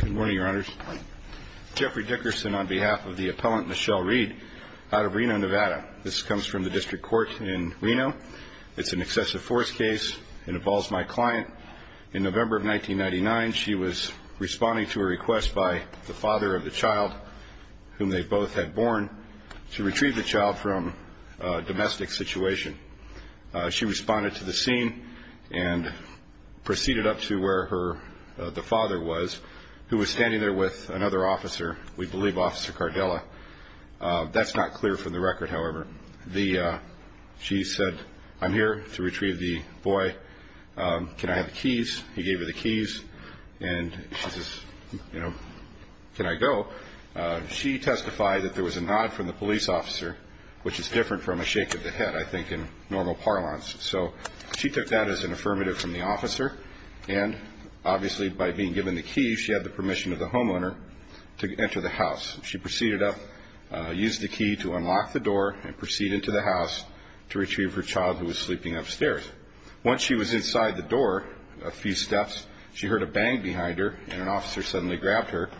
Good morning, Your Honors. Jeffrey Dickerson on behalf of the appellant Michelle Reed, out of Reno, Nevada. This comes from the District Court in Reno. It's an excessive force case and involves my client. In November of 1999, she was responding to a request by the father of the child, whom they both had born, to retrieve the child from a domestic situation. She responded to the scene and proceeded up to where the father was, who was standing there with another officer, we believe Officer Cardella. That's not clear from the record, however. She said, I'm here to retrieve the boy. Can I have the keys? He gave her the keys and she says, can I go? She testified that there was a nod from the police officer, which is different from a shake of the head, I think, in normal parlance. So she took that as an affirmative from the officer and, obviously, by being given the keys, she had the permission of the homeowner to enter the house. She proceeded up, used the key to unlock the door and proceeded to the house to retrieve her child, who was sleeping upstairs. Once she was inside the door a few steps, she heard a bang behind her and an officer suddenly grabbed her,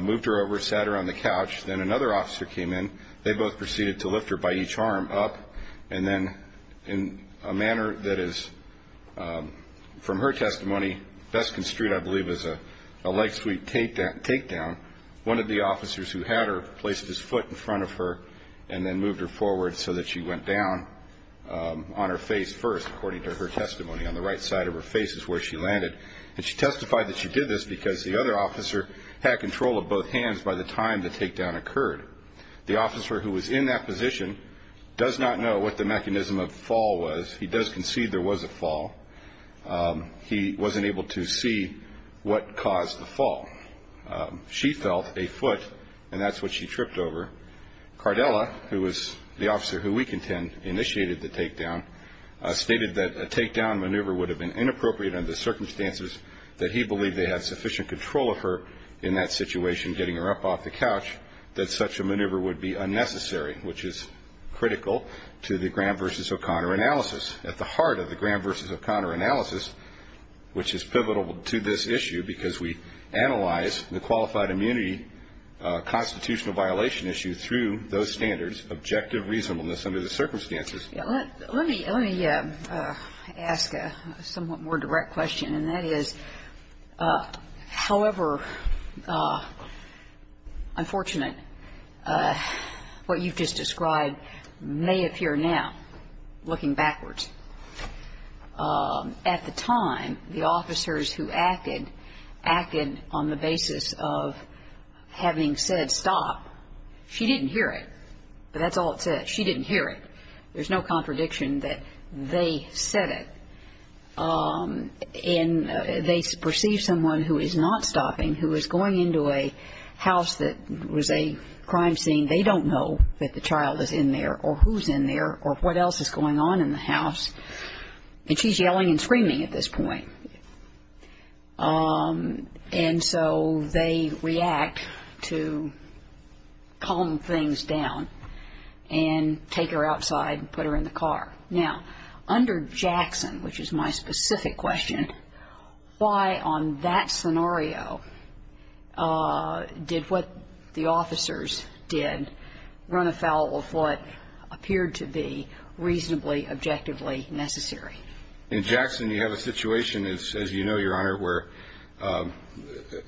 moved her over, sat her on the couch. Then another officer came in. They both proceeded to lift her by each arm up and then in a manner that is, from her testimony, best construed, I believe, as a leg sweep takedown, one of the officers who had her placed his foot in front of her and then moved her forward so that she went down on her face first, according to her testimony. On the right side of her face is where she landed. And she testified that she did this because the other officer had control of both hands by the time the takedown occurred. The officer who was in that position does not know what the mechanism of the fall was. He does concede there was a fall. He wasn't able to see what caused the fall. She felt a foot and that's what she tripped over. Cardella, who was the officer who we contend initiated the takedown, stated that a takedown maneuver would have been inappropriate under the circumstances that he believed they had sufficient control of her in that situation, getting her up off the couch, that such a maneuver would be unnecessary, which is critical to the Graham v. O'Connor analysis. At the heart of the Graham v. O'Connor analysis, which is pivotal to this issue because we analyze the qualified immunity constitutional violation issue through those standards, objective reasonableness under the circumstances. Let me ask a somewhat more direct question, and that is, however unfortunate what you've just described may appear now, looking backwards. At the time, the officers who acted, acted on the basis of having said stop. She didn't hear it, but that's all it said. She didn't hear it. There's no contradiction that they said it. And they perceive someone who is not stopping, who is going into a house that was a crime scene, they don't know that the child is in there or who's in there or what else is going on in the house. And she's yelling and screaming at this point. And so they react to calm things down and take her outside and put her in the car. Now, under Jackson, which is my specific question, why on that scenario did what the officers did run afoul of what appeared to be reasonably, objectively necessary? In Jackson, you have a situation, as you know, Your Honor, where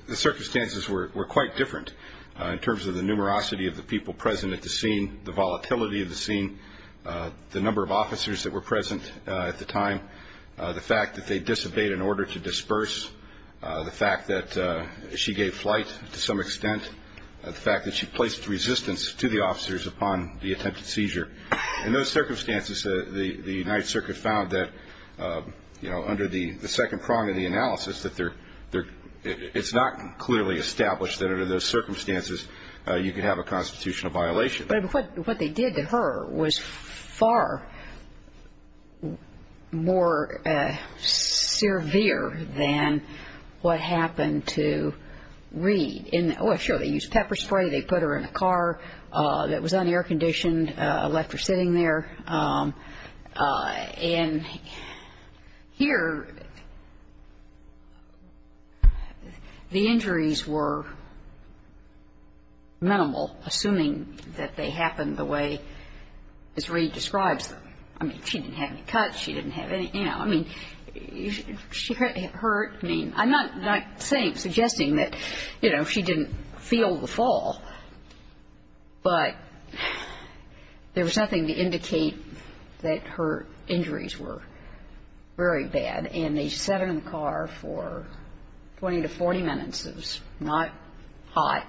the circumstances were quite different in terms of the numerosity of the people present at the scene, the volatility of the scene, the number of officers that were present at the time, the fact that they disobeyed an order to disperse, the fact that she gave flight to some extent, the fact that she placed resistance to the officers upon the attempted seizure. In those circumstances, the United Circuit found that, you know, under the second prong of the analysis, that it's not clearly established that under those circumstances you could have a constitutional violation. But what they did to her was far more severe than what happened to Reed. Sure, they used And here, the injuries were minimal, assuming that they happened the way as Reed describes them. I mean, she didn't have any cuts. She didn't have any, you know, I mean, she hurt me. I'm not saying, suggesting that, you know, she didn't feel the fall, but there was nothing to indicate that her injuries were very bad. And they sat her in the car for 20 to 40 minutes. It was not hot,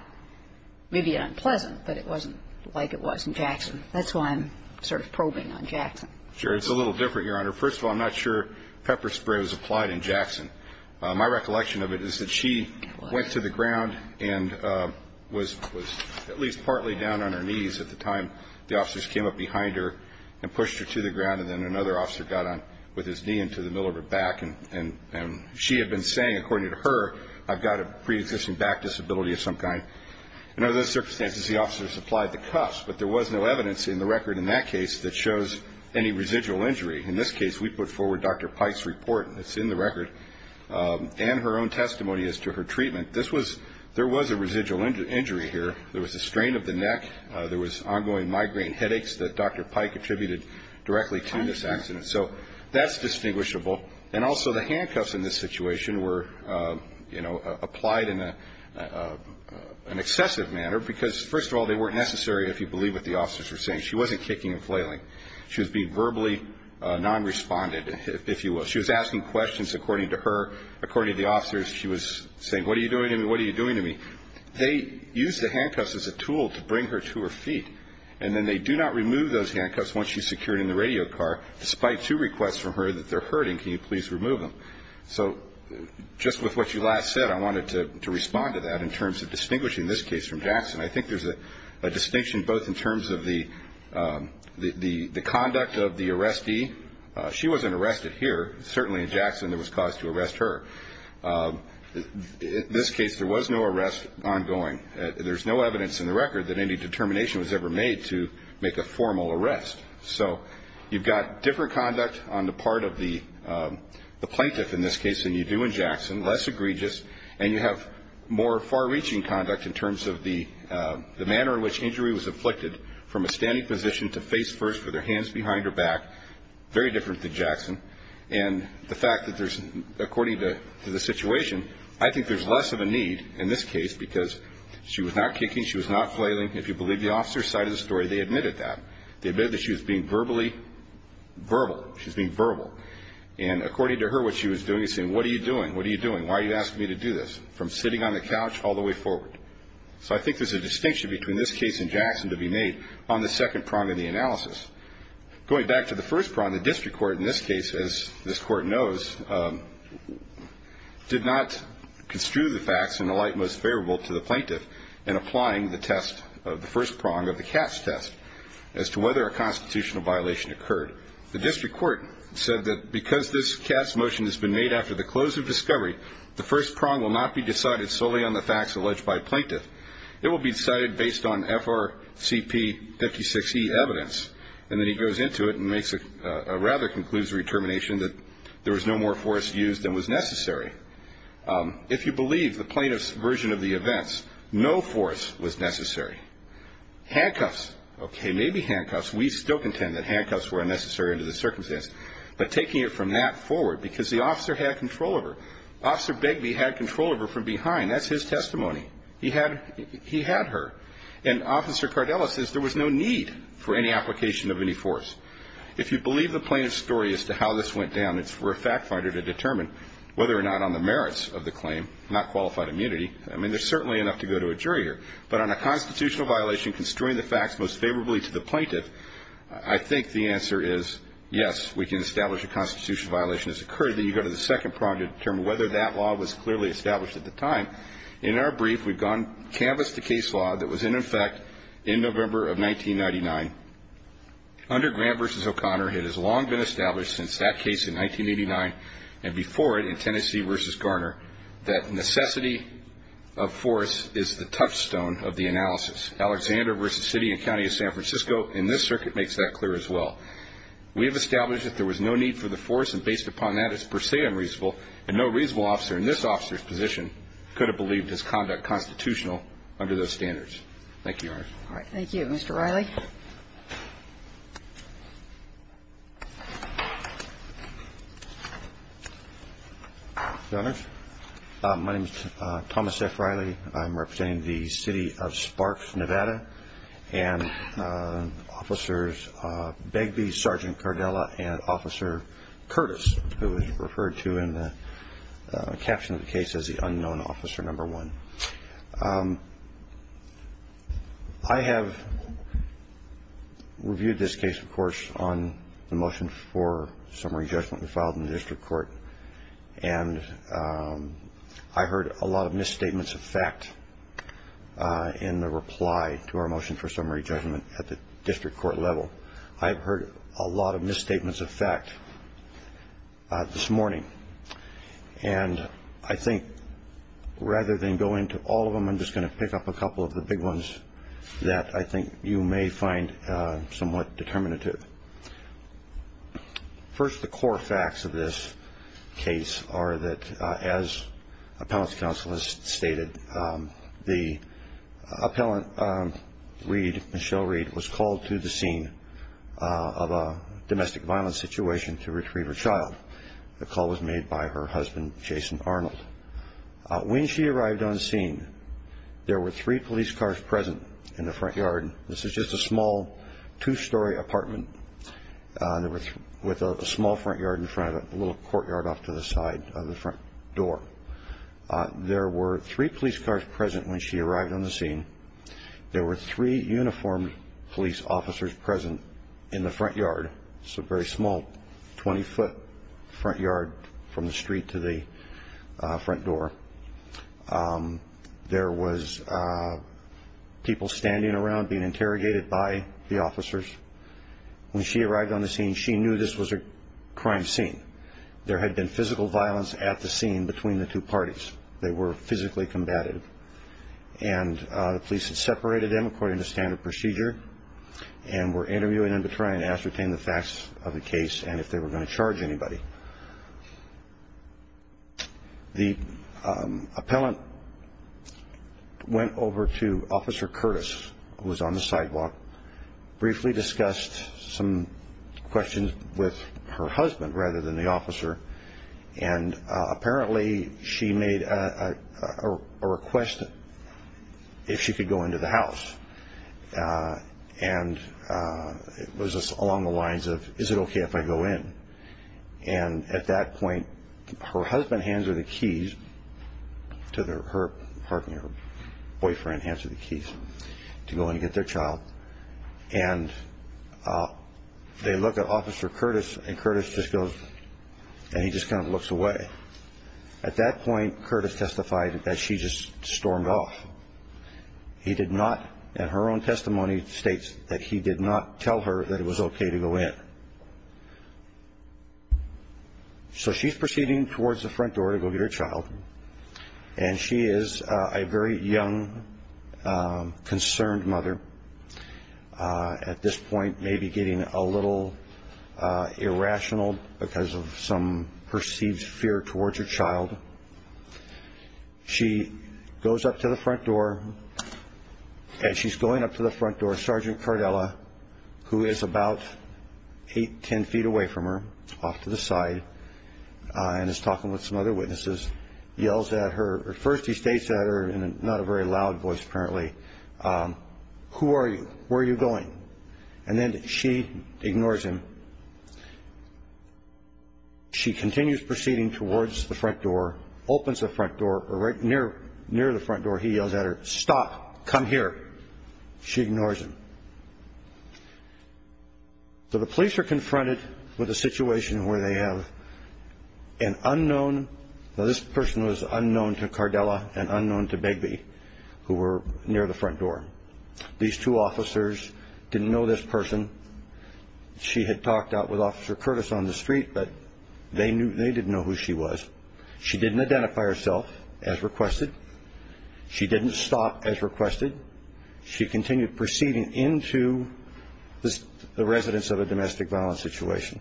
maybe unpleasant, but it wasn't like it was in Jackson. That's why I'm sort of probing on Jackson. Sure, it's a little different, Your Honor. First of all, I'm not sure pepper spray was applied in Jackson. My recollection of it is that she went to the ground and was at least partly down on her knees at the time the officers came up behind her and pushed her to the ground. And then another officer got on with his knee into the middle of her back. And she had been saying, according to her, I've got a pre-existing back disability of some kind. Under those circumstances, the officers applied the cuffs. But there was no evidence in the record in that case that shows any residual injury. In this case, we put forward Dr. Pike's report. It's in the record. And her own testimony as to her treatment. This was, there was a residual injury here. There was a strain of the neck. There was ongoing migraine headaches that Dr. Pike attributed directly to this accident. So that's distinguishable. And also the handcuffs in this situation were, you know, applied in an excessive manner. Because, first of all, they weren't necessary, if you believe what the officers were saying. She wasn't kicking and flailing. She was being verbally non-respondent, if you will. She was asking questions, according to her, according to the officers. She was saying, what are you doing to me? What are you doing to me? They used the handcuffs as a tool to bring her to her feet. And then they do not remove those handcuffs once she's secured in the radio car, despite two requests from her that they're hurting. Can you please remove them? So just with what you last said, I wanted to respond to that in terms of distinguishing this case from Jackson. I think there's a distinction both in terms of the conduct of the arrestee. She wasn't arrested here. Certainly in Jackson, there was cause to arrest her. In this case, there was no arrest ongoing. There's no evidence in the record that any determination was ever made to make a formal arrest. So you've got different conduct on the part of the plaintiff in this case than you do in Jackson, less egregious. And you have more far-reaching conduct in terms of the manner in which injury was afflicted, from a standing position to face first with her hands behind her back. Very different than Jackson. And the fact that there's, according to the situation, I think there's less of a need in this case because she was not kicking, she was not flailing. If you believe the officer's side of the story, they admitted that. They admitted that she was being verbally verbal. She was being verbal. And according to her, what she was doing is saying, what are you doing? What are you doing? Why are you asking me to do this? From sitting on the couch all the way forward. So I think there's a distinction between this case and Jackson to be made on the second prong of the analysis. Going back to the first prong, the district court in this case, as this court knows, did not construe the facts in the light most favorable to the plaintiff in applying the test of the first prong of the Katz test as to whether a constitutional violation occurred. The district court said that because this Katz motion has been made after the close of discovery, the first prong will not be decided solely on the facts alleged by plaintiff. It will be decided based on FRCP 56E evidence. And then he goes into it and makes a rather conclusive determination that there was no more force used than was necessary. If you believe the plaintiff's version of the events, no force was necessary. Handcuffs. Okay, maybe handcuffs. We still contend that handcuffs were unnecessary under the circumstance. But taking it from that forward, because the officer had control of her. Officer Begbie had control of her from behind. That's his testimony. He had her. And Officer Cardella says there was no need for any application of any force. If you believe the plaintiff's story as to how this went down, it's for a fact finder to determine whether or not on the merits of the claim, not qualified immunity. I mean, there's certainly enough to go to a jury here. But on a constitutional violation, constrain the facts most favorably to the plaintiff, I think the answer is yes, we can establish a constitutional violation has occurred. Then you go to the second prong to determine whether that law was clearly established at the time. In our brief, we've gone, canvassed the case law that was in effect in November of 1999. Under Grant v. O'Connor, it has long been established since that case in 1989 and before it in Tennessee v. Garner, that necessity of force is the touchstone of the analysis. Alexander v. City and County of San Francisco in this circuit makes that clear as well. We've established that there was no need for the force, and based upon that, it's per se unreasonable, and no reasonable officer in this officer's position could have believed his conduct constitutional under those standards. Thank you, Your Honor. All right. Thank you. Mr. Riley. I'm representing the City of Sparks, Nevada, and Officers Begbie, Sgt. Cardella, and Officer Curtis, who is referred to in the caption of the case as the unknown officer number one. I have reviewed this case, of course, on the motion for summary judgment we filed in the district court, and I heard a lot of misstatements of fact in the reply to our motion for summary judgment at the district court level. I've heard a lot of misstatements of fact this morning, and I think rather than go into all of them, I'm just going to pick up a couple of the big ones that I think you may find somewhat determinative. First, the facts of this case are that, as appellant's counsel has stated, the appellant, Michelle Reed, was called to the scene of a domestic violence situation to retrieve her child. The call was made by her husband, Jason Arnold. When she arrived on scene, there were three police cars present in the front yard. This is just a small two-story apartment with a small front yard in front of it, a little courtyard off to the side of the front door. There were three police cars present when she arrived on the scene. There were three uniformed police officers present in the front yard. It's a very small 20-foot front yard from the street to the front door. There was people standing around being interrogated by the officers. When she arrived on the scene, she knew this was a crime scene. There had been physical violence at the scene between the two parties. They were physically combated, and the police had separated them according to standard procedure and were interviewing them to try and ascertain the facts of the case and if they were going to charge anybody. The appellant went over to Officer Curtis, who was on the sidewalk, briefly discussed some questions with her husband rather than the officer. Apparently, she made a request if she could go into the house. It was along the lines of, is it okay if I go in? At that point, her husband hands her the keys to her apartment. Her boyfriend hands her the keys to go in and get their child. They look at Officer Curtis, and Curtis just goes and he just kind of looks away. At that point, Curtis testified that she just stormed off. He did not, in her own testimony, state that he did not tell her that it was okay to go in. So she's proceeding towards the front door to go get her child, and she is a very young, concerned mother. At this point, maybe getting a little irrational because of some perceived fear towards her child. She goes up to the front door, and she's going up to the front door. Sergeant Cardella, who is about eight, ten feet away from her, off to the side, and is talking with some other witnesses, yells at her. First, he states at her in not a very loud voice, apparently, who are you? Where are you going? And then she ignores him. She continues proceeding towards the front door, opens the front door, but right near the front door, he yells at her, stop, come here. She ignores him. So the police are confronted with a situation where they have an unknown, now this person was unknown to Cardella and who were near the front door. These two officers didn't know this person. She had talked out with Officer Curtis on the street, but they didn't know who she was. She didn't identify herself as requested. She didn't stop as requested. She continued proceeding into the residence of a domestic violence situation.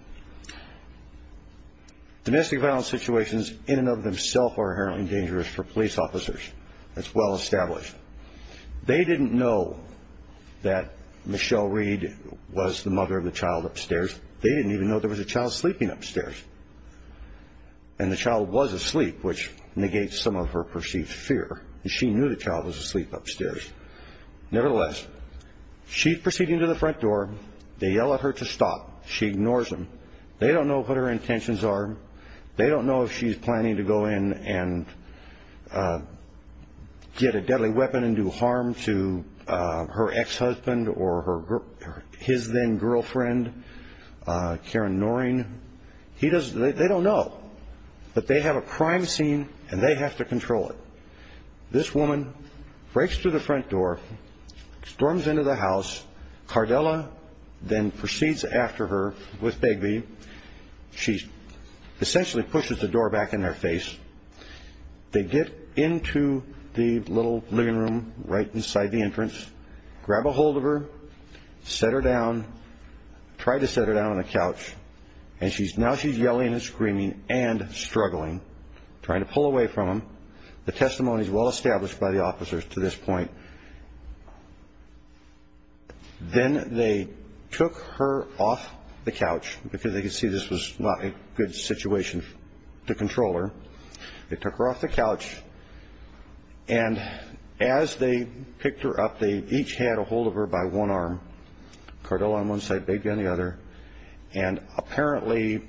Domestic violence situations in and of themselves are apparently dangerous for police officers. It's well established. They didn't know that Michelle Reed was the mother of the child upstairs. They didn't even know there was a child sleeping upstairs. And the child was asleep, which negates some of her perceived fear. She knew the child was asleep upstairs. Nevertheless, she's proceeding to the front door. They yell at her to stop. She ignores them. They don't know what her intentions are. They don't know if she's planning to go in and get a deadly weapon and do harm to her ex-husband or his then-girlfriend, Karen Noreen. They don't know. But they have a crime scene and they have to control it. This woman breaks through the front door, storms into the house. Cardella then proceeds after her with Bigby. She essentially pushes the door back in their face. They get into the little living room right inside the entrance, grab a hold of her, set her down, try to set her down on the couch. And now she's yelling and screaming and struggling, trying to pull away from them. The testimony is well established by the officers to this They took her off the couch because they could see this was not a good situation to control her. They took her off the couch. And as they picked her up, they each had a hold of her by one arm, Cardella on one side, Bigby on the other. And apparently,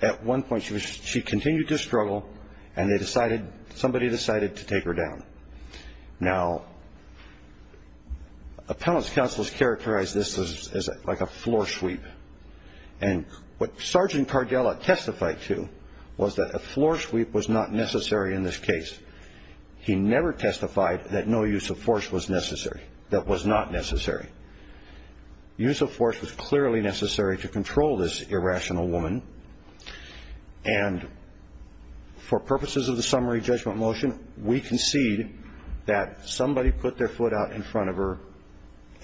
at one point she continued to struggle and they decided, somebody decided to take her down. Now, appellant's counsels characterized this as like a floor sweep. And what Sergeant Cardella testified to was that a floor sweep was not necessary in this case. He never testified that no use of force was necessary, that was not necessary. Use of force was clearly necessary to control this irrational woman. And for purposes of the summary judgment motion, we concede that somebody put their foot out in front of her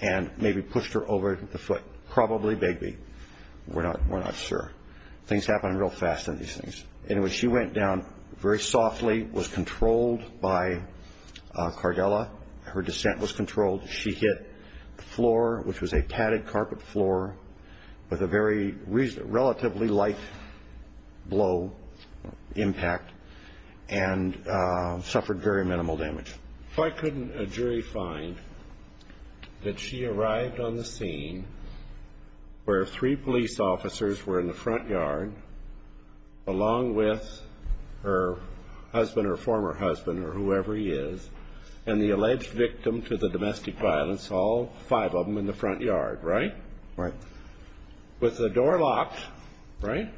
and maybe pushed her over the foot, probably Bigby. We're not sure. Things happen real fast in these things. Anyway, she went down very softly, was controlled by Cardella. Her descent was controlled. She hit the floor, which was a padded carpet floor, with a very relatively light blow impact and suffered very minimal damage. Why couldn't a jury find that she arrived on the scene where three police officers were in the front yard, along with her husband or former husband or whoever he is, and the alleged victim to the domestic violence, all five of them in the front yard, right? Right. With the door locked, right?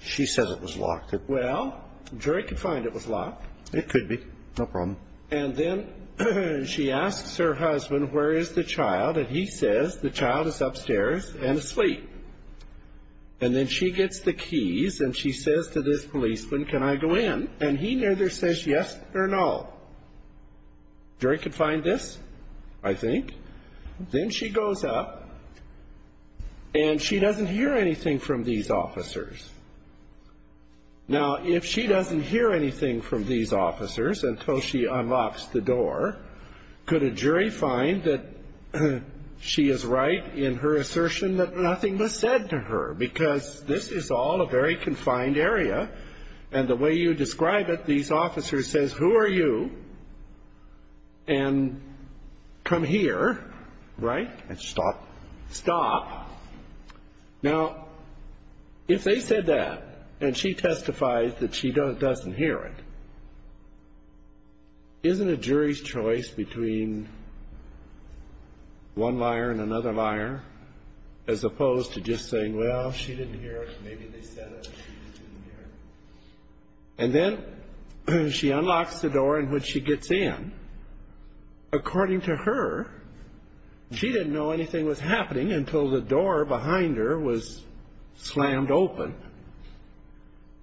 She said it was locked. Well, jury could find it was locked. It could be. No problem. And then she asks her husband, where is the child? And he says the child is upstairs and asleep. And then she gets the keys and she says to this policeman, can I go in? And he neither says yes or no. Jury could find this, I think. Then she goes up and she doesn't hear anything from these officers. Now, if she doesn't hear anything from these officers until she unlocks the door, could a jury find that she is right in her assertion that nothing was said to her? Because this is all a very confined area. And the way you describe it, these officers says, who are you? And come here, right? And stop. Stop. Now, if they said that and she testifies that she doesn't hear it, isn't a jury's choice between one liar and another liar, as opposed to just saying, well, she didn't hear it, maybe they said it and she didn't hear it. And then she unlocks the door and when she gets in, according to her, she didn't know anything was happening until the door behind her was slammed open.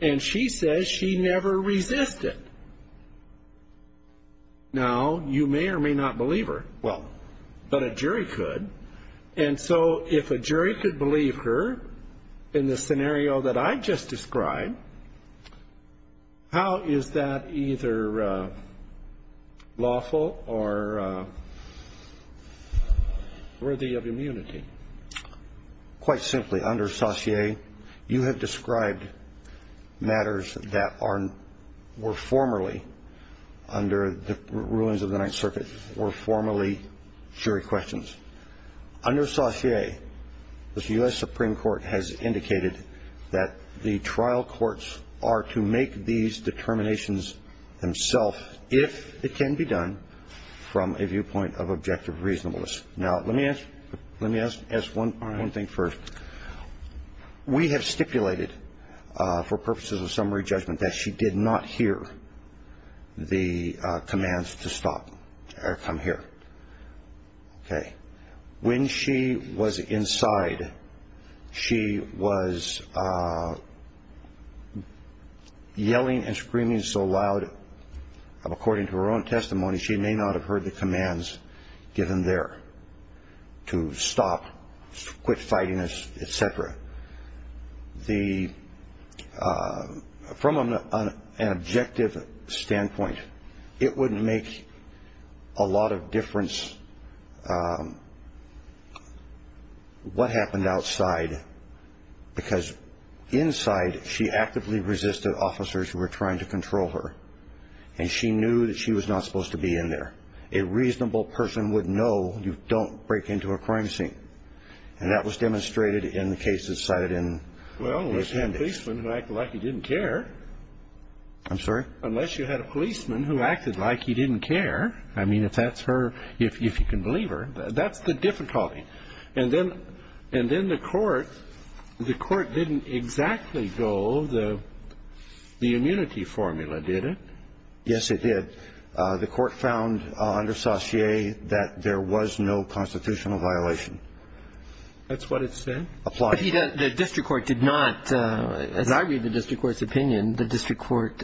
And she says she never resisted. Now, you may or may not believe her. Well, but a jury could. And so if a jury could believe her in the scenario that I just described, how is that either lawful or worthy of immunity? Quite simply, under Saussure, you have described matters that were formerly, under the rulings of the Ninth Circuit, were formerly jury questions. Under Saussure, the U.S. Supreme Court has indicated that the trial courts are to make these determinations themselves, if it can be done, from a viewpoint of objective reasonableness. Now, let me ask one thing first. We have stipulated for purposes of summary judgment that she did not hear the commands to come here. When she was inside, she was yelling and screaming so loud, according to her own testimony, she may not have heard the commands given there to stop, quit fighting, et cetera. From an objective standpoint, it wouldn't make a lot of difference what happened outside, because inside, she actively resisted officers who were trying to control her. And she knew that she was not supposed to be in there. A reasonable person would know you don't break into a crime scene. And that was demonstrated in the cases cited in the appendix. Well, unless you had a policeman who acted like he didn't care. I'm sorry? Unless you had a policeman who acted like he didn't care. I mean, if that's her, if you can believe her, that's the difficulty. And then the court didn't exactly go the immunity formula, did it? Yes, it did. The court found under Saussure that there was no constitutional violation. That's what it said? Applied. But the district court did not, as I read the district court's opinion, the district court,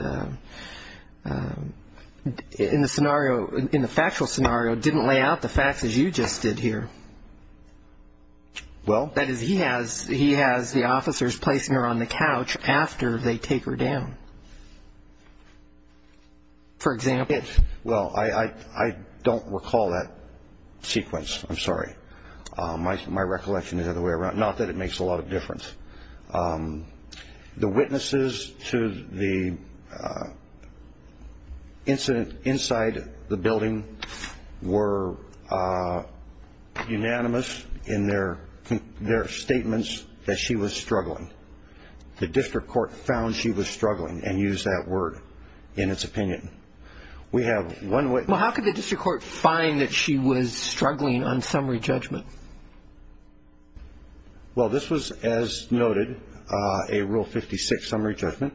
in the scenario, in the factual scenario, didn't lay out the facts as you just did here. Well. That is, he has the officers placing her on the couch after they take her down. For example. Well, I don't recall that sequence. I'm sorry. My recollection is the other way around. Not that it makes a lot of difference. The witnesses to the incident inside the building were unanimous in their statements that she was struggling. The district court found she was struggling and used that word in its opinion. We have one witness. Well, how could the district court find that she was struggling on summary judgment? Well, this was, as noted, a Rule 56 summary judgment.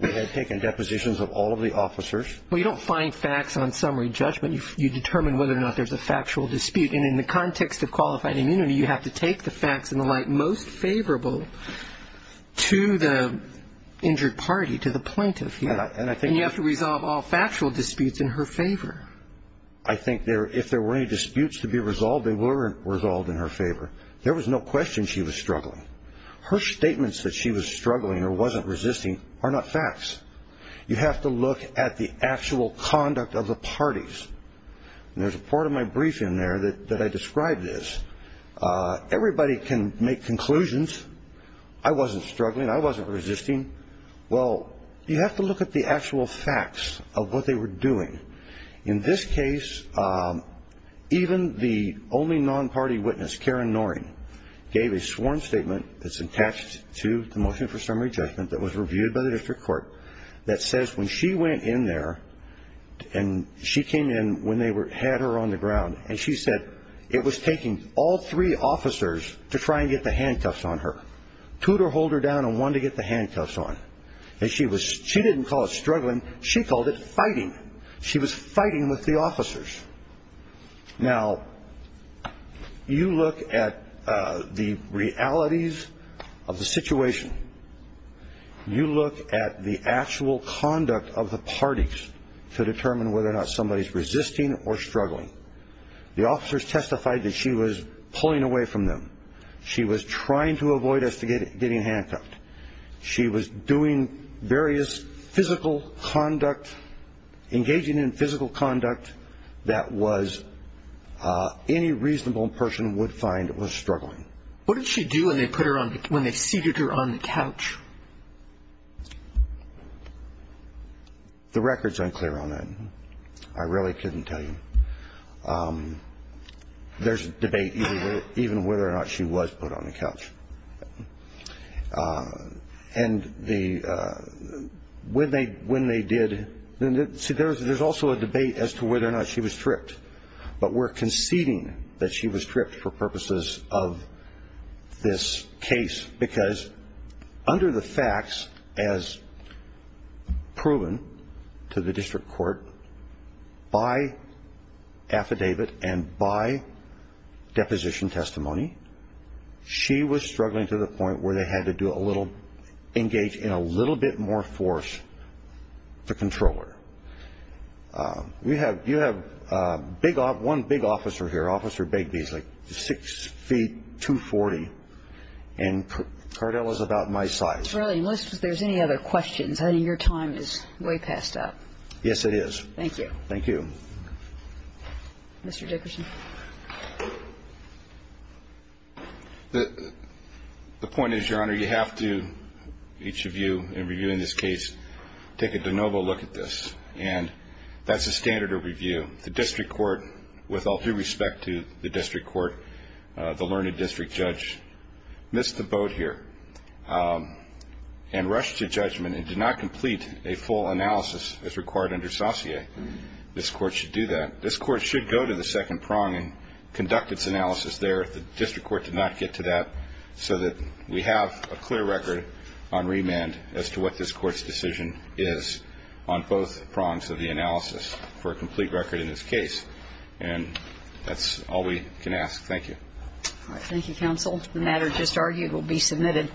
We had taken depositions of all of the officers. Well, you don't find facts on summary judgment. You determine whether or not there's a factual dispute. And in the context of qualified immunity, you have to take the facts and the light most favorable to the injured party, to the plaintiff. And you have to resolve all factual disputes in her favor. I think if there were any disputes to be resolved, they were resolved in her favor. There was no question she was struggling. Her statements that she was struggling or wasn't resisting are not facts. You have to look at the actual conduct of the parties. And there's a part of my brief in there that I describe this. Everybody can make conclusions. I wasn't struggling. I wasn't resisting. Well, you have to look at the actual facts of what they were doing. In this case, even the only non-party witness, Karen Noring, gave a sworn statement that's attached to the motion for summary judgment that was reviewed by the district court that says when she went in there, and she came in when they had her on the ground, and she said it was taking all three officers to try and get the handcuffs on her. Two to hold her down and one to get the handcuffs on. She didn't call it struggling. She called it fighting. She was fighting with the officers. Now, you look at the realities of the situation. You look at the actual conduct of the parties to determine whether or not somebody's resisting or struggling. The officers testified that she was pulling away from them. She was trying to avoid us getting handcuffed. She was doing various physical conduct, engaging in physical conduct that any reasonable person would find was struggling. What did she do when they seated her on the couch? The record's unclear on that. I really couldn't tell you. There's debate even whether or not she was put on the couch. And when they did, see, there's also a debate as to whether or not she was tripped. But we're conceding that she was tripped for purposes of this case because under the facts as proven to the district court by affidavit and by deposition testimony, she was struggling to the point where they had to engage in a little bit more force with the controller. You have one big officer here, Officer Bigby. He's like 6 feet 240. And Cardell is about my size. Really, unless there's any other questions. I know your time is way passed up. Yes, it is. Thank you. Thank you. Mr. Dickerson. The point is, Your Honor, you have to, each of you in reviewing this case, take a de novo look at this. And that's a standard of review. The district court, with all due respect to the district court, the learning district judge missed the boat here and rushed to judgment and did not complete a full analysis as required under saucier. This court should do that. This court should go to the second prong and conduct its analysis there if the district court did not get to that so that we have a clear record on remand as to what this court's decision is on both prongs of the analysis for a complete record in this case. And that's all we can ask. Thank you. Thank you, counsel. The matter just argued will be submitted.